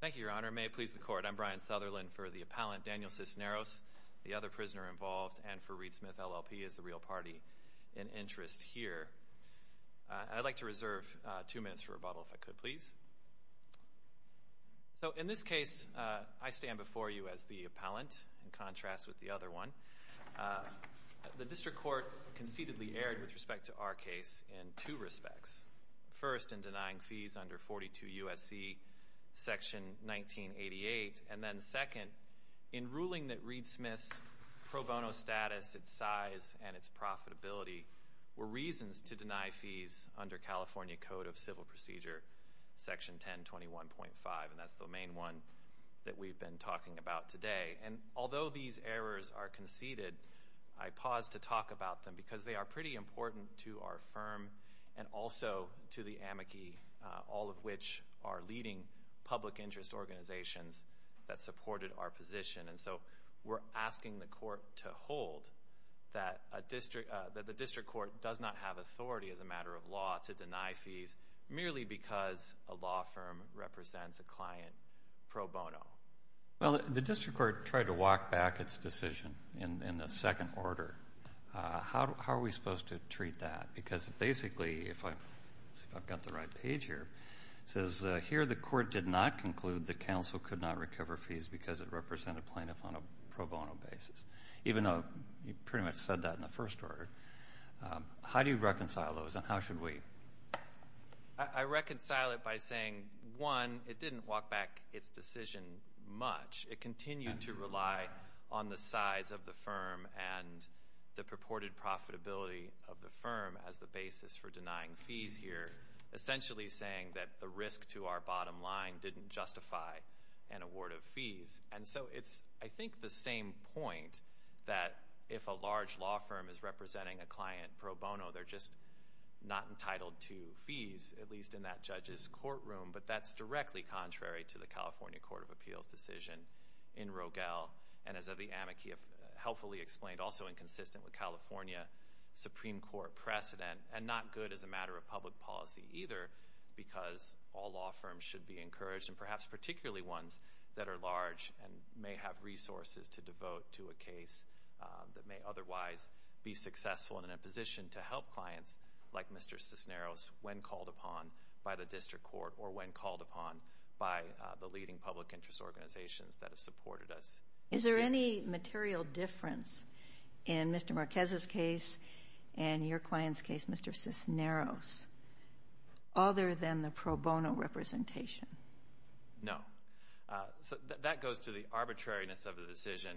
Thank you, Your Honor. May it please the Court, I'm Brian Sutherland for the appellant Daniel Cisneros, the other prisoner involved, and for Reed Smith, LLP, as the real party in interest here. I'd like to reserve two minutes for rebuttal, if I could please. So, in this case, I stand before you as the appellant, in contrast with the other one. The district court concededly erred with respect to our case in two respects. First, in denying fees under 42 U.S.C. section 1988. And then second, in ruling that Reed Smith's pro bono status, its size, and its profitability were reasons to deny fees under California Code of Civil Procedure section 1021.5. And that's the main one that we've been talking about today. And although these errors are conceded, I pause to talk about them because they are pretty important to our firm and also to the amici, all of which are leading public interest organizations that supported our position. And so we're asking the Court to hold that the district court does not have authority as a matter of law to deny fees merely because a law firm represents a client pro bono. Well, the district court tried to walk back its decision in the second order. How are we supposed to treat that? Because basically, if I've got the right page here, it says, here the court did not conclude that counsel could not recover fees because it represented plaintiff on a pro bono basis, even though you pretty much said that in the first order. How do you reconcile those, and how should we? I reconcile it by saying, one, it didn't walk back its decision much. It continued to rely on the size of the firm and the purported profitability of the firm as the basis for denying fees here, essentially saying that the risk to our bottom line didn't justify an award of fees. And so it's, I think, the same point that if a large law firm is representing a client pro bono, they're just not entitled to fees, at least in that judge's courtroom. But that's directly contrary to the California Court of Appeals' decision in Rogel, and as the amici have helpfully explained, also inconsistent with California Supreme Court precedent, and not good as a matter of public policy either because all law firms should be encouraged, and perhaps particularly ones that are large and may have resources to devote to a case that may otherwise be successful and in a position to help clients like Mr. Cisneros when called upon by the district court or when called upon by the leading public interest organizations that have supported us. Is there any material difference in Mr. Marquez's case and your client's case, Mr. Cisneros, other than the pro bono representation? No. That goes to the arbitrariness of the decision.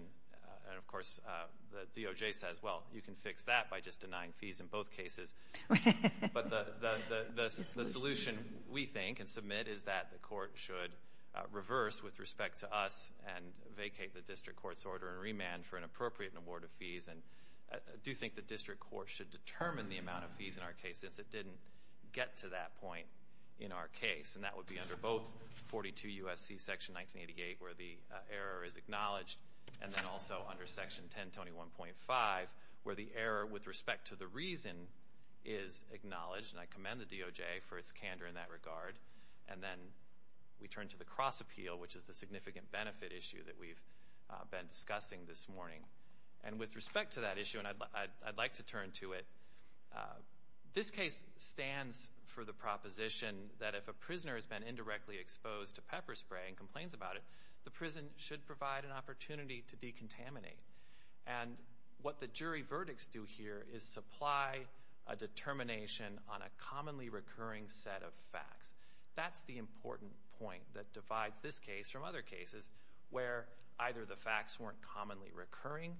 And, of course, the DOJ says, well, you can fix that by just denying fees in both cases. But the solution we think and submit is that the court should reverse with respect to us and vacate the district court's order and remand for an appropriate and award of fees. And I do think the district court should determine the amount of fees in our case since it didn't get to that point in our case. And that would be under both 42 U.S.C. Section 1988 where the error is acknowledged and then also under Section 1021.5 where the error with respect to the reason is acknowledged. And I commend the DOJ for its candor in that regard. And then we turn to the cross appeal, which is the significant benefit issue that we've been discussing this morning. And with respect to that issue, and I'd like to turn to it, this case stands for the proposition that if a prisoner has been indirectly exposed to pepper spray and complains about it, the prison should provide an opportunity to decontaminate. And what the jury verdicts do here is supply a determination on a commonly recurring set of facts. That's the important point that divides this case from other cases where either the facts weren't commonly recurring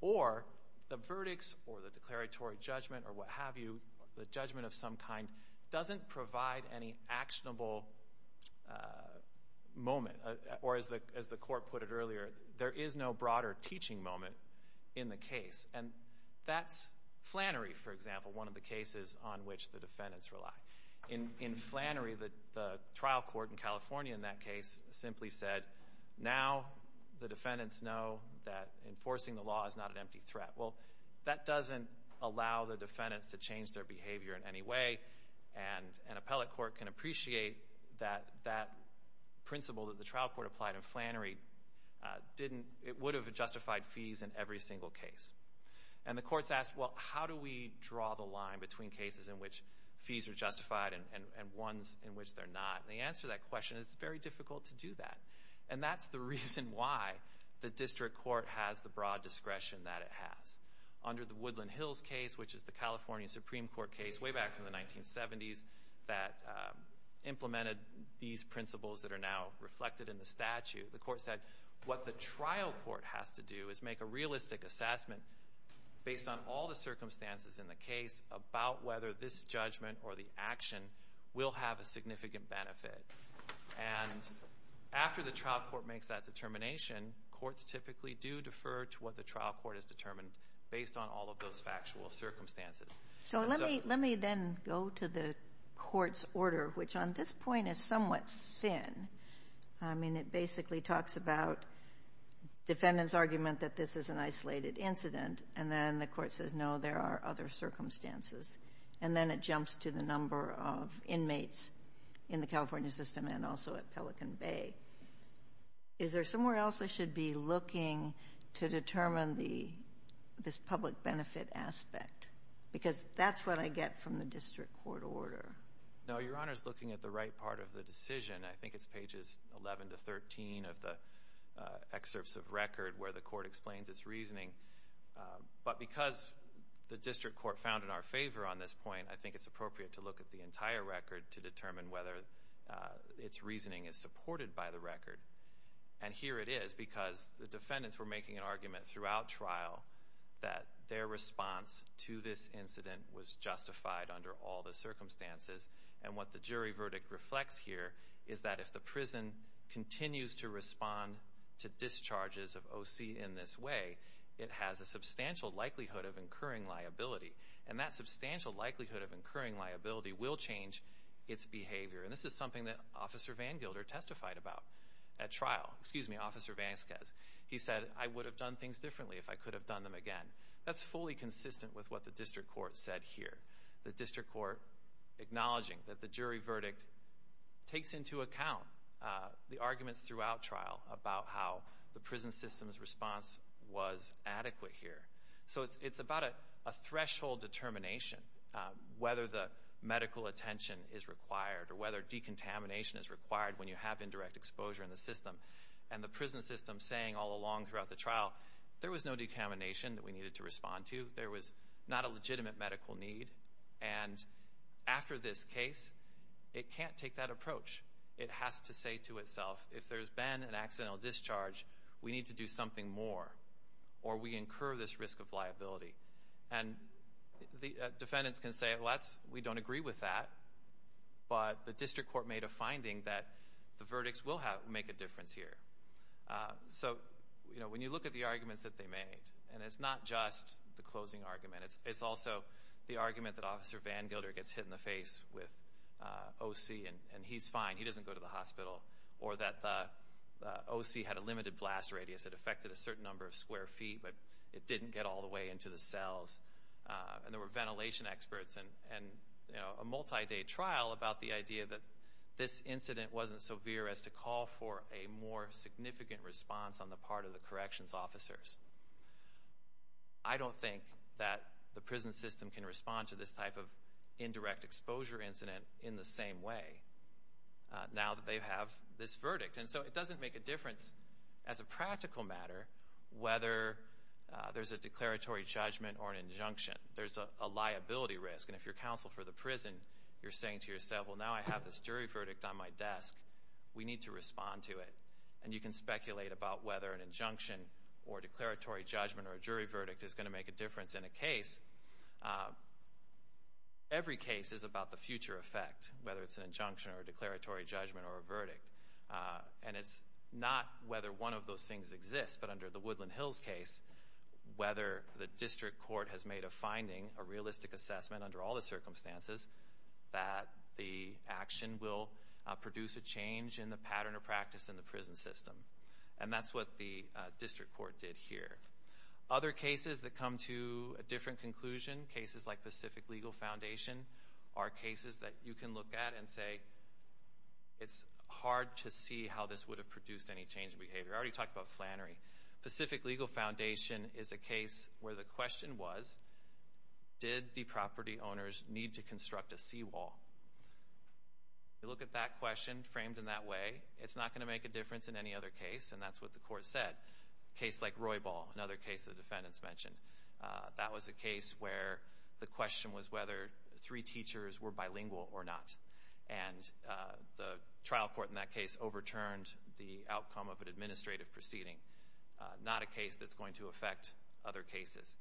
or the verdicts or the declaratory judgment or what have you, the judgment of some kind, doesn't provide any actionable moment. Or as the court put it earlier, there is no broader teaching moment in the case. And that's Flannery, for example, one of the cases on which the defendants rely. In Flannery, the trial court in California in that case simply said, now the defendants know that enforcing the law is not an empty threat. Well, that doesn't allow the defendants to change their behavior in any way. And an appellate court can appreciate that that principle that the trial court applied in Flannery didn't, it would have justified fees in every single case. And the courts asked, well, how do we draw the line between cases in which fees are justified and ones in which they're not? And the answer to that question is it's very difficult to do that. And that's the reason why the district court has the broad discretion that it has. Under the Woodland Hills case, which is the California Supreme Court case way back in the 1970s that implemented these principles that are now reflected in the statute, the court said what the trial court has to do is make a realistic assessment, based on all the circumstances in the case, about whether this judgment or the action will have a significant benefit. And after the trial court makes that determination, courts typically do defer to what the trial court has determined based on all of those factual circumstances. So let me then go to the court's order, which on this point is somewhat thin. I mean, it basically talks about defendants' argument that this is an isolated incident, and then the court says, no, there are other circumstances. And then it jumps to the number of inmates in the California system and also at Pelican Bay. Is there somewhere else I should be looking to determine this public benefit aspect? Because that's what I get from the district court order. No, Your Honor is looking at the right part of the decision. I think it's pages 11 to 13 of the excerpts of record where the court explains its reasoning. But because the district court found in our favor on this point, I think it's appropriate to look at the entire record to determine whether its reasoning is supported by the record. And here it is, because the defendants were making an argument throughout trial that their response to this incident was justified under all the circumstances. And what the jury verdict reflects here is that if the prison continues to respond to discharges of OC in this way, it has a substantial likelihood of incurring liability. And that substantial likelihood of incurring liability will change its behavior. And this is something that Officer VanGilder testified about at trial. Excuse me, Officer Vanskes. He said, I would have done things differently if I could have done them again. That's fully consistent with what the district court said here. The district court acknowledging that the jury verdict takes into account the arguments throughout trial about how the prison system's response was adequate here. So it's about a threshold determination, whether the medical attention is required or whether decontamination is required when you have indirect exposure in the system. And the prison system saying all along throughout the trial, there was no decontamination that we needed to respond to. There was not a legitimate medical need. And after this case, it can't take that approach. It has to say to itself, if there's been an accidental discharge, we need to do something more or we incur this risk of liability. And defendants can say, well, we don't agree with that. But the district court made a finding that the verdicts will make a difference here. So when you look at the arguments that they made, and it's not just the closing argument. It's also the argument that Officer VanGilder gets hit in the face with O.C. and he's fine. He doesn't go to the hospital. Or that the O.C. had a limited blast radius. It affected a certain number of square feet, but it didn't get all the way into the cells. And there were ventilation experts and a multi-day trial about the idea that this incident wasn't severe as to call for a more significant response on the part of the corrections officers. I don't think that the prison system can respond to this type of indirect exposure incident in the same way. Now that they have this verdict. And so it doesn't make a difference as a practical matter whether there's a declaratory judgment or an injunction. There's a liability risk. And if you're counsel for the prison, you're saying to yourself, well, now I have this jury verdict on my desk. We need to respond to it. And you can speculate about whether an injunction or declaratory judgment or a jury verdict is going to make a difference in a case. Every case is about the future effect, whether it's an injunction or a declaratory judgment or a verdict. And it's not whether one of those things exists, but under the Woodland Hills case, whether the district court has made a finding, a realistic assessment under all the circumstances, that the action will produce a change in the pattern of practice in the prison system. And that's what the district court did here. Other cases that come to a different conclusion, cases like Pacific Legal Foundation, are cases that you can look at and say it's hard to see how this would have produced any change in behavior. I already talked about Flannery. Pacific Legal Foundation is a case where the question was, did the property owners need to construct a seawall? You look at that question framed in that way, it's not going to make a difference in any other case, and that's what the court said. A case like Roybal, another case the defendants mentioned, that was a case where the question was whether three teachers were bilingual or not. And the trial court in that case overturned the outcome of an administrative proceeding, not a case that's going to affect other cases.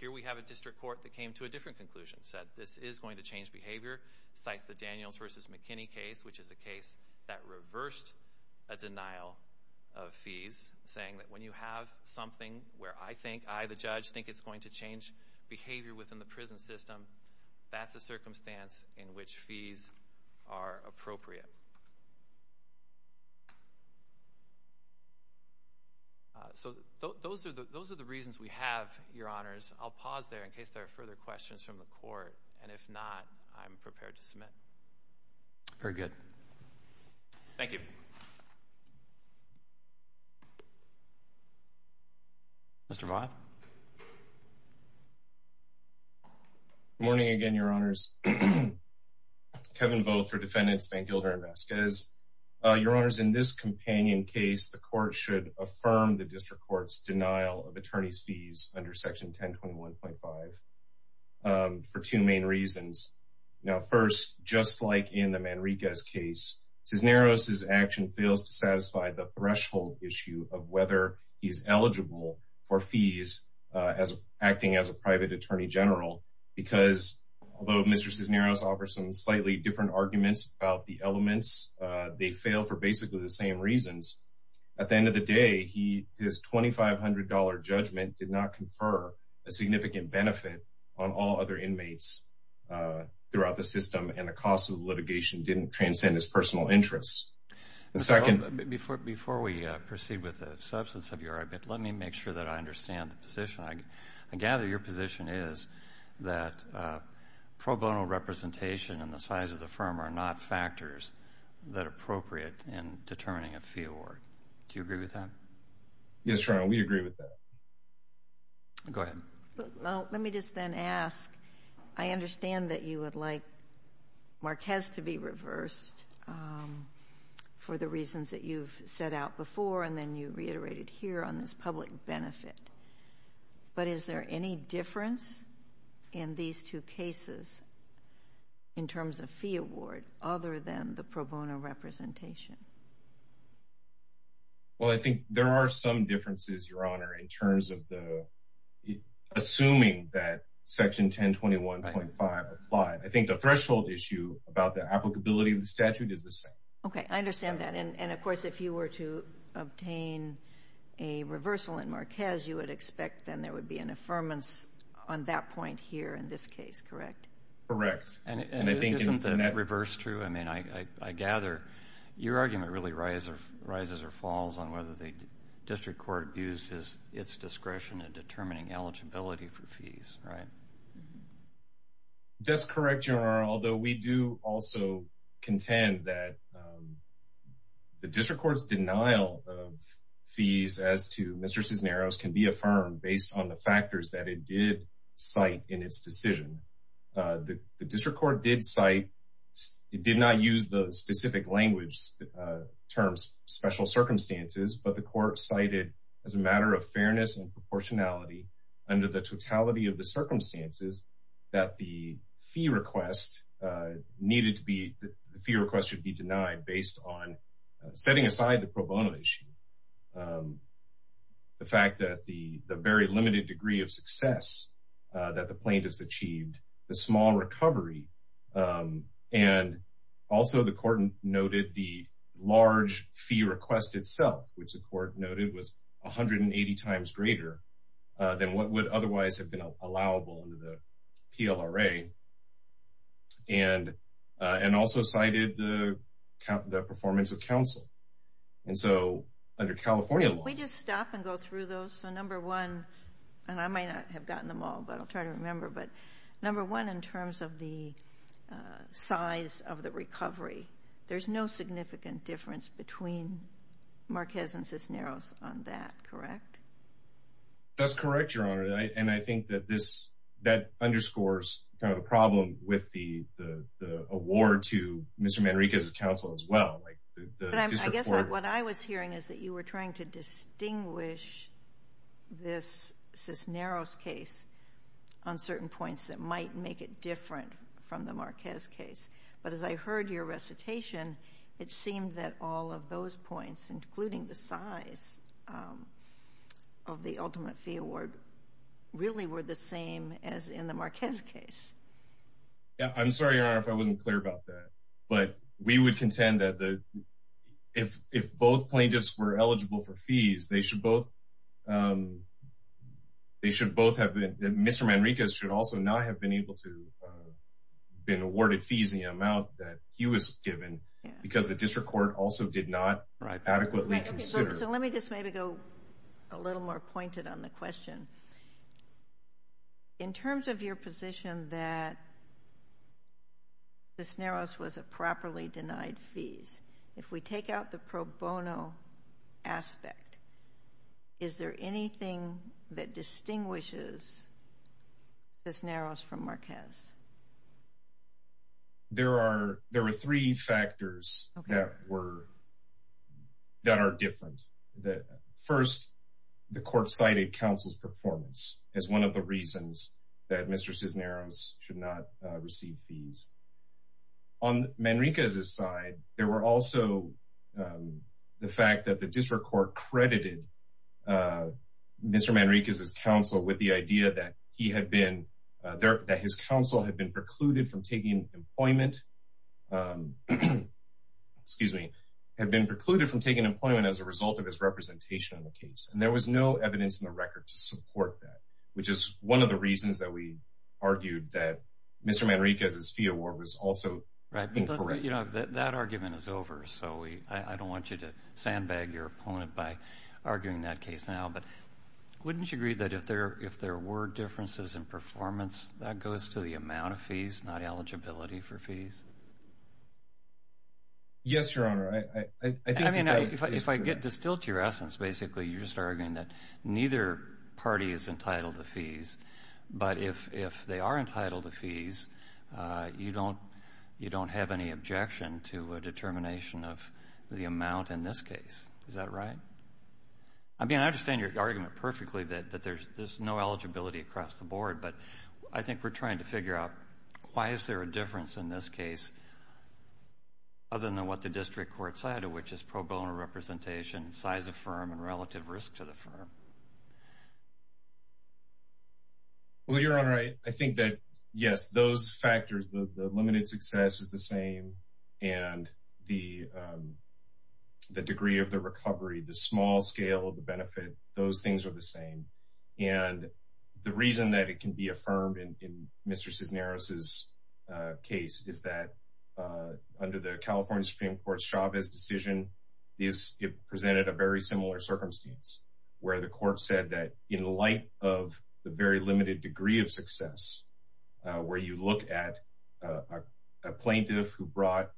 Here we have a district court that came to a different conclusion, said this is going to change behavior, cites the Daniels v. McKinney case, which is a case that reversed a denial of fees, saying that when you have something where I think, I, the judge, think it's going to change behavior within the prison system, that's a circumstance in which fees are appropriate. So those are the reasons we have, Your Honors. I'll pause there in case there are further questions from the court, and if not, I'm prepared to submit. Very good. Thank you. Mr. Voth? Good morning again, Your Honors. Kevin Voth for Defendants Van Gilder. As Your Honors, in this companion case, the court should affirm the district court's denial of attorney's fees under section 1021.5 for two main reasons. Now, first, just like in the Manriquez case, Cisneros' action fails to satisfy the threshold issue of whether he is eligible for fees as acting as a private attorney general, because although Mr. Cisneros offers some slightly different arguments about the elements, they fail for basically the same reasons. At the end of the day, his $2,500 judgment did not confer a significant benefit on all other inmates throughout the system, and the cost of the litigation didn't transcend his personal interests. Before we proceed with the substance of your argument, let me make sure that I understand the position. that appropriate in determining a fee award. Do you agree with that? Yes, Your Honor, we agree with that. Go ahead. Let me just then ask, I understand that you would like Marquez to be reversed for the reasons that you've set out before, and then you reiterated here on this public benefit. But is there any difference in these two cases, in terms of fee award, other than the pro bono representation? Well, I think there are some differences, Your Honor, in terms of assuming that Section 1021.5 applies. I think the threshold issue about the applicability of the statute is the same. Okay, I understand that. And of course, if you were to obtain a reversal in Marquez, you would expect then there would be an affirmance on that point here in this case, correct? Correct. And isn't the reverse true? I mean, I gather your argument really rises or falls on whether the district court used its discretion in determining eligibility for fees, right? That's correct, Your Honor, although we do also contend that the district court's denial of fees as to Mr. Cisneros can be affirmed based on the factors that it did cite in its decision. The district court did cite, it did not use the specific language terms, special circumstances, but the court cited as a matter of fairness and proportionality under the totality of the circumstances that the fee request needed to be, the fee request should be denied based on setting aside the pro bono issue. The fact that the very limited degree of success that the plaintiff's achieved, the small recovery, and also the court noted the large fee request itself, which the court noted was 180 times greater than what would otherwise have been allowable under the PLRA. And also cited the performance of counsel. And so under California law, We just stop and go through those. So number one, and I might not have gotten them all, but I'll try to remember, but number one in terms of the size of the recovery, there's no significant difference between Marquez and Cisneros on that. Correct? That's correct, Your Honor. And I think that this, that underscores kind of a problem with the award to Mr. Manriquez's counsel as well. I guess what I was hearing is that you were trying to distinguish this Cisneros case on certain points that might make it different from the Marquez case. But as I heard your recitation, it seemed that all of those points, including the size of the ultimate fee award, really were the same as in the Marquez case. I'm sorry, Your Honor, if I wasn't clear about that. But we would contend that if both plaintiffs were eligible for fees, they should both, they should both have been, Mr. Manriquez should also not have been able to been awarded fees in the amount that he was given because the district court also did not adequately consider. So let me just maybe go a little more pointed on the question. In terms of your position that Cisneros was a properly denied fees, if we take out the pro bono aspect, is there anything that distinguishes Cisneros from Marquez? There are, there were three factors that were, that are different. First, the court cited counsel's performance as one of the reasons that Mr. Cisneros should not receive fees. On Manriquez's side, there were also the fact that the district court credited Mr. Manriquez's counsel with the idea that he had been there, that his counsel had been precluded from taking employment, excuse me, had been precluded from taking employment as a result of his representation in the case. And there was no evidence in the record to support that, which is one of the reasons that we argued that Mr. Manriquez's fee award was also incorrect. That argument is over. So we, I don't want you to sandbag your opponent by arguing that case now, but wouldn't you agree that if there, if there were differences in performance that goes to the amount of fees, not eligibility for fees? Yes, Your Honor. I mean, if I get distilled to your essence, basically you're just arguing that neither party is entitled to fees, but if, if they are entitled to fees, you don't, you don't have any objection to a determination of the amount in this case. Is that right? I mean, I understand your argument perfectly that, that there's, there's no eligibility across the board, but I think we're trying to figure out why is there a difference in this case? Other than what the district court side of which is pro bono representation, size of firm and relative risk to the firm. Well, Your Honor, I think that yes, those factors, the limited success is the same and the, the degree of the recovery, the small scale of the benefit, those things are the same. And the reason that it can be affirmed in, in Mr. Cisneros' case is that under the California Supreme Court Chavez decision, these presented a very similar circumstance where the court said that in light of the very limited degree of success, where you look at a plaintiff who brought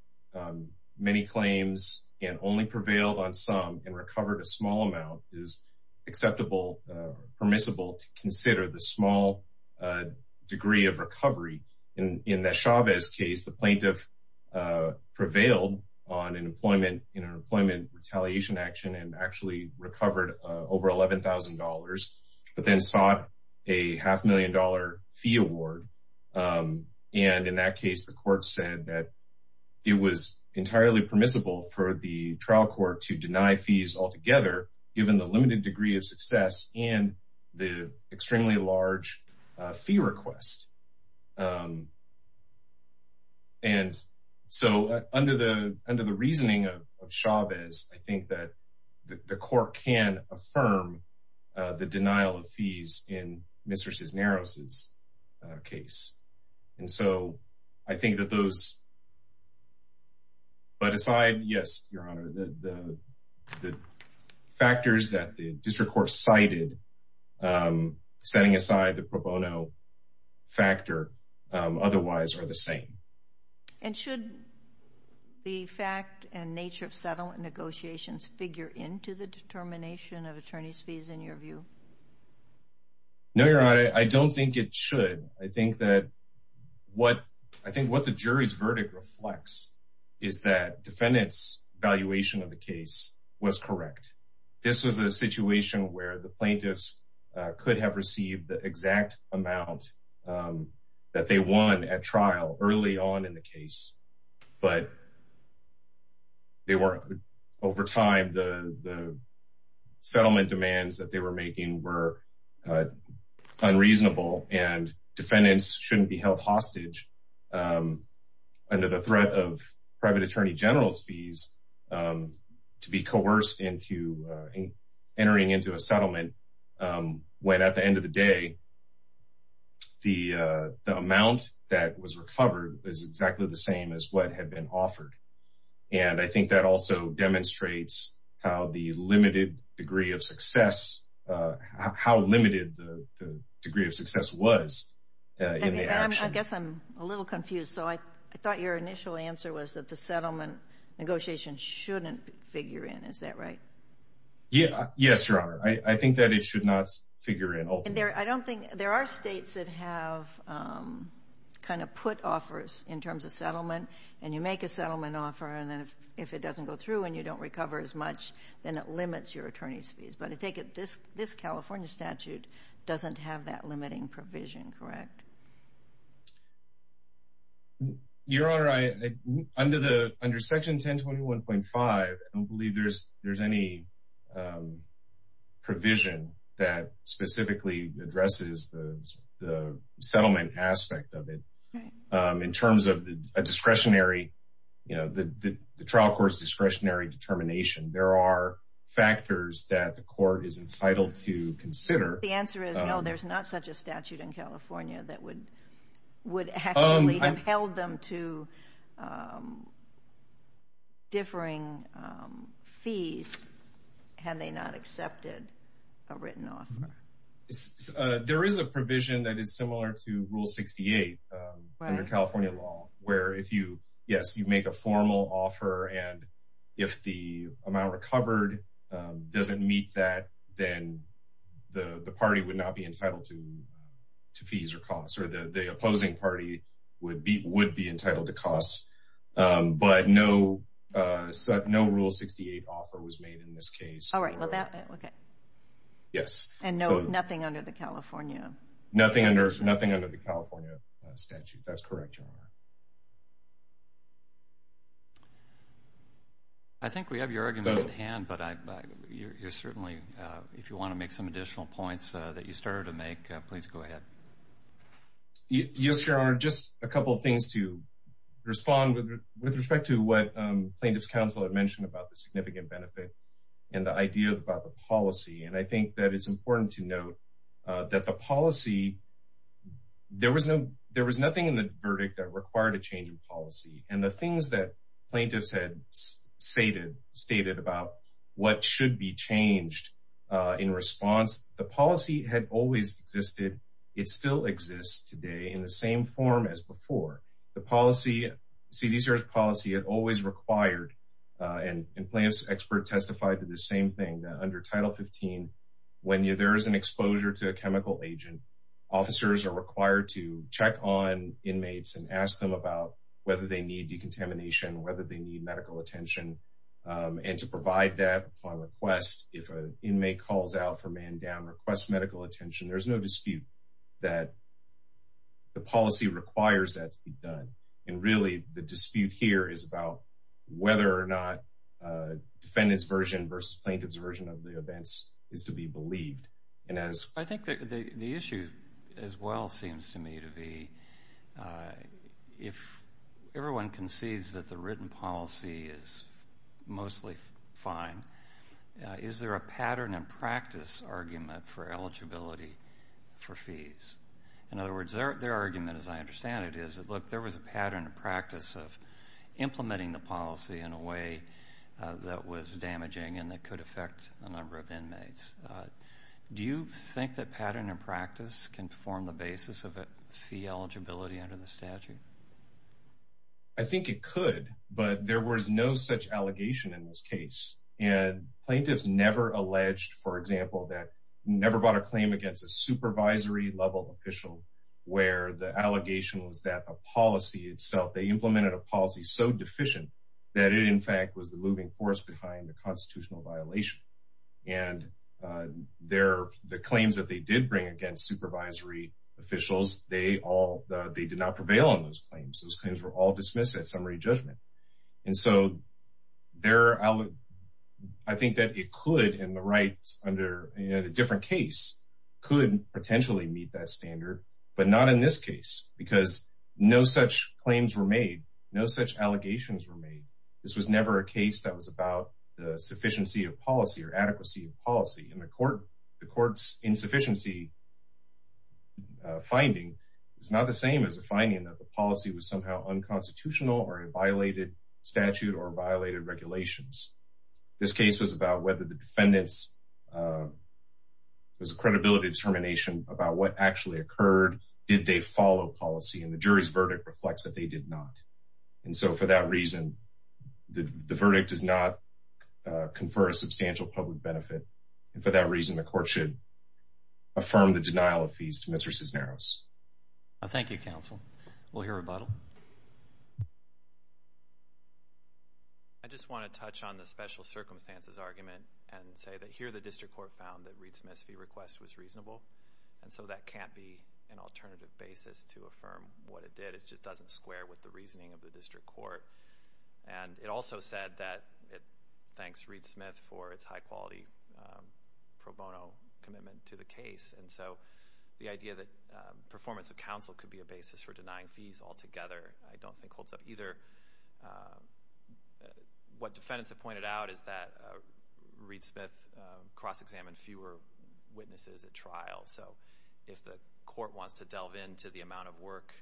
many claims and only prevailed on some and recovered a small amount is acceptable, permissible to consider the small degree of recovery. And in the Chavez case, the plaintiff prevailed on an employment in an employment retaliation action and actually recovered over $11,000, but then sought a half million dollar fee award. And in that case, the court said that it was entirely permissible for the trial court to deny fees altogether, given the limited degree of success and the extremely large fee request. And so under the, under the reasoning of Chavez, I think that the court can affirm the denial of fees in Mr. Cisneros' case. And so I think that those, but aside, yes, your honor, the factors that the district court cited, setting aside the pro bono factor otherwise are the same. And should the fact and nature of settlement negotiations figure into the determination of attorney's fees in your view? No, your honor. I don't think it should. I think that what I think what the jury's verdict reflects is that defendants valuation of the case was correct. This was a situation where the plaintiffs could have received the exact amount that they won at trial early on in the case, but they weren't over time. The, the settlement demands that they were making were unreasonable and defendants shouldn't be held hostage under the threat of private attorney general's fees to be coerced into entering into a settlement. When at the end of the day, the amount that was recovered is exactly the same as what had been offered. And I think that also demonstrates how the limited degree of success, how limited the degree of success was in the action. I guess I'm a little confused. So I thought your initial answer was that the settlement negotiations shouldn't figure in. Is that right? Yes, your honor. I think that it should not figure in. I don't think there are states that have kind of put offers in terms of settlement and you make a settlement offer and then if it doesn't go through and you don't recover as much, then it limits your attorney's fees. But I take it this, this California statute doesn't have that limiting provision, correct? Your honor, I under the under section 10 21.5 I don't believe there's, there's any provision that specifically addresses the, the settlement aspect of it. In terms of the discretionary, you know, the, the trial court's discretionary determination, there are factors that the court is entitled to consider. The answer is no, there's not such a statute in California that would would have held them to differing fees had they not accepted a written off. There is a provision that is similar to rule 68 under California law where if you, yes, you make a formal offer. And if the amount recovered doesn't meet that, then the party would not be entitled to, to fees or costs or the opposing party would be, be entitled to costs. But no, no rule 68 offer was made in this case. All right. Okay. Yes. And no, nothing under the California, nothing under nothing under the California statute. That's correct. I think we have your argument at hand, but I, you're certainly if you want to make some additional points that you started to make, please go ahead. Yes, your honor. Just a couple of things to respond with, with respect to what plaintiff's counsel had mentioned about the significant benefit and the idea of about the policy. And I think that it's important to note that the policy, there was no, there was nothing in the verdict that required a change in policy and the things that plaintiffs had stated, stated about what should be changed in response. The policy had always existed. It still exists today in the same form as before the policy. See, these are policy had always required and in plaintiff's expert testified to the same thing that under title 15, when you, there is an exposure to a chemical agent, officers are required to check on inmates and ask them about whether they need decontamination, whether they need medical attention. And to provide that upon request, if an inmate calls out for man down request medical attention, there's no dispute that the policy requires that to be done. And really the dispute here is about whether or not a defendant's version versus plaintiff's version of the events is to be believed. And as I think that the issue as well seems to me to be if everyone concedes that the written policy is mostly fine, is there a pattern and practice argument for eligibility for fees? In other words, their argument as I understand it is that look, there was a pattern of practice of implementing the policy in a way that was damaging and that could affect a number of inmates. Do you think that pattern and practice can form the basis of a fee eligibility under the statute? I think it could, but there was no such allegation in this case and plaintiffs never alleged, for example, that never bought a claim against a supervisory level official where the allegation was that a policy itself, they implemented a policy so deficient that it in fact was the moving force behind the constitutional violation. And the claims that they did bring against supervisory officials, they did not prevail on those claims. Those claims were all dismissed at summary judgment. And so there, I think that it could in the rights under a different case could potentially meet that standard, but not in this case, because no such claims were made. No such allegations were made. This was never a case that was about the sufficiency of policy or adequacy of policy in the court. The court's insufficiency finding is not the same as the finding that the plaintiffs somehow unconstitutional or violated statute or violated regulations. This case was about whether the defendants was a credibility determination about what actually occurred. Did they follow policy in the jury's verdict reflects that they did not. And so for that reason, the verdict does not confer a substantial public benefit. And for that reason, the court should affirm the denial of fees to Mr. Cisneros. Thank you, counsel. We'll hear rebuttal. I just want to touch on the special circumstances argument and say that here the district court found that Reed Smith's fee request was reasonable. And so that can't be an alternative basis to affirm what it did. It just doesn't square with the reasoning of the district court. And it also said that it thanks Reed Smith for its high quality pro bono commitment to the case. And so the idea that performance of counsel could be a basis for denying fees altogether, I don't think holds up either. What defendants have pointed out is that Reed Smith cross-examined fewer witnesses at trial. So if the court wants to delve into the amount of work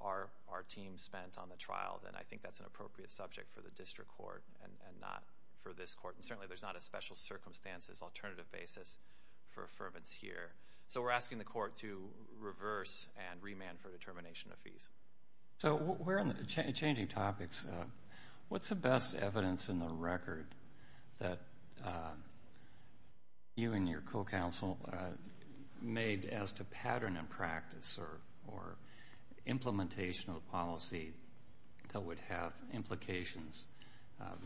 our team spent on the trial, then I think that's an appropriate subject for the district court and not for this court. And certainly there's not a special circumstances alternative basis for this here. So we're asking the court to reverse and remand for determination of fees. So we're changing topics. What's the best evidence in the record that you and your co-counsel made as to pattern and practice or implementation of the policy that would have implications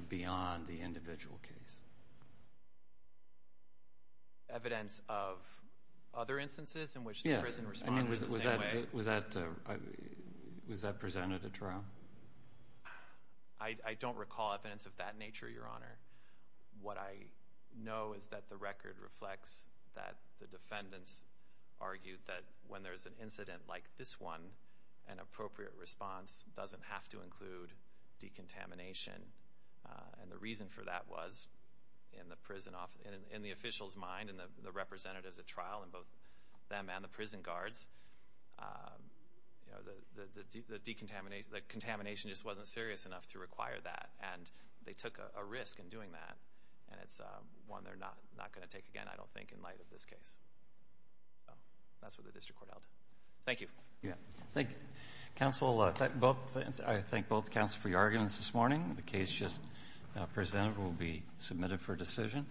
beyond the individual case? Evidence of other instances in which the prison responded in the same way? Yes. Was that presented at trial? I don't recall evidence of that nature, Your Honor. What I know is that the record reflects that the defendants argued that when there's an incident like this one, an appropriate response doesn't have to include decontamination. And the reason for that was in the official's mind and the representatives at trial and both them and the prison guards, the contamination just wasn't serious enough to require that. And they took a risk in doing that, and it's one they're not going to take again, I don't think, in light of this case. That's what the district court held. Thank you. Thank you. I thank both counsel for your arguments this morning. The case just presented will be submitted for decision.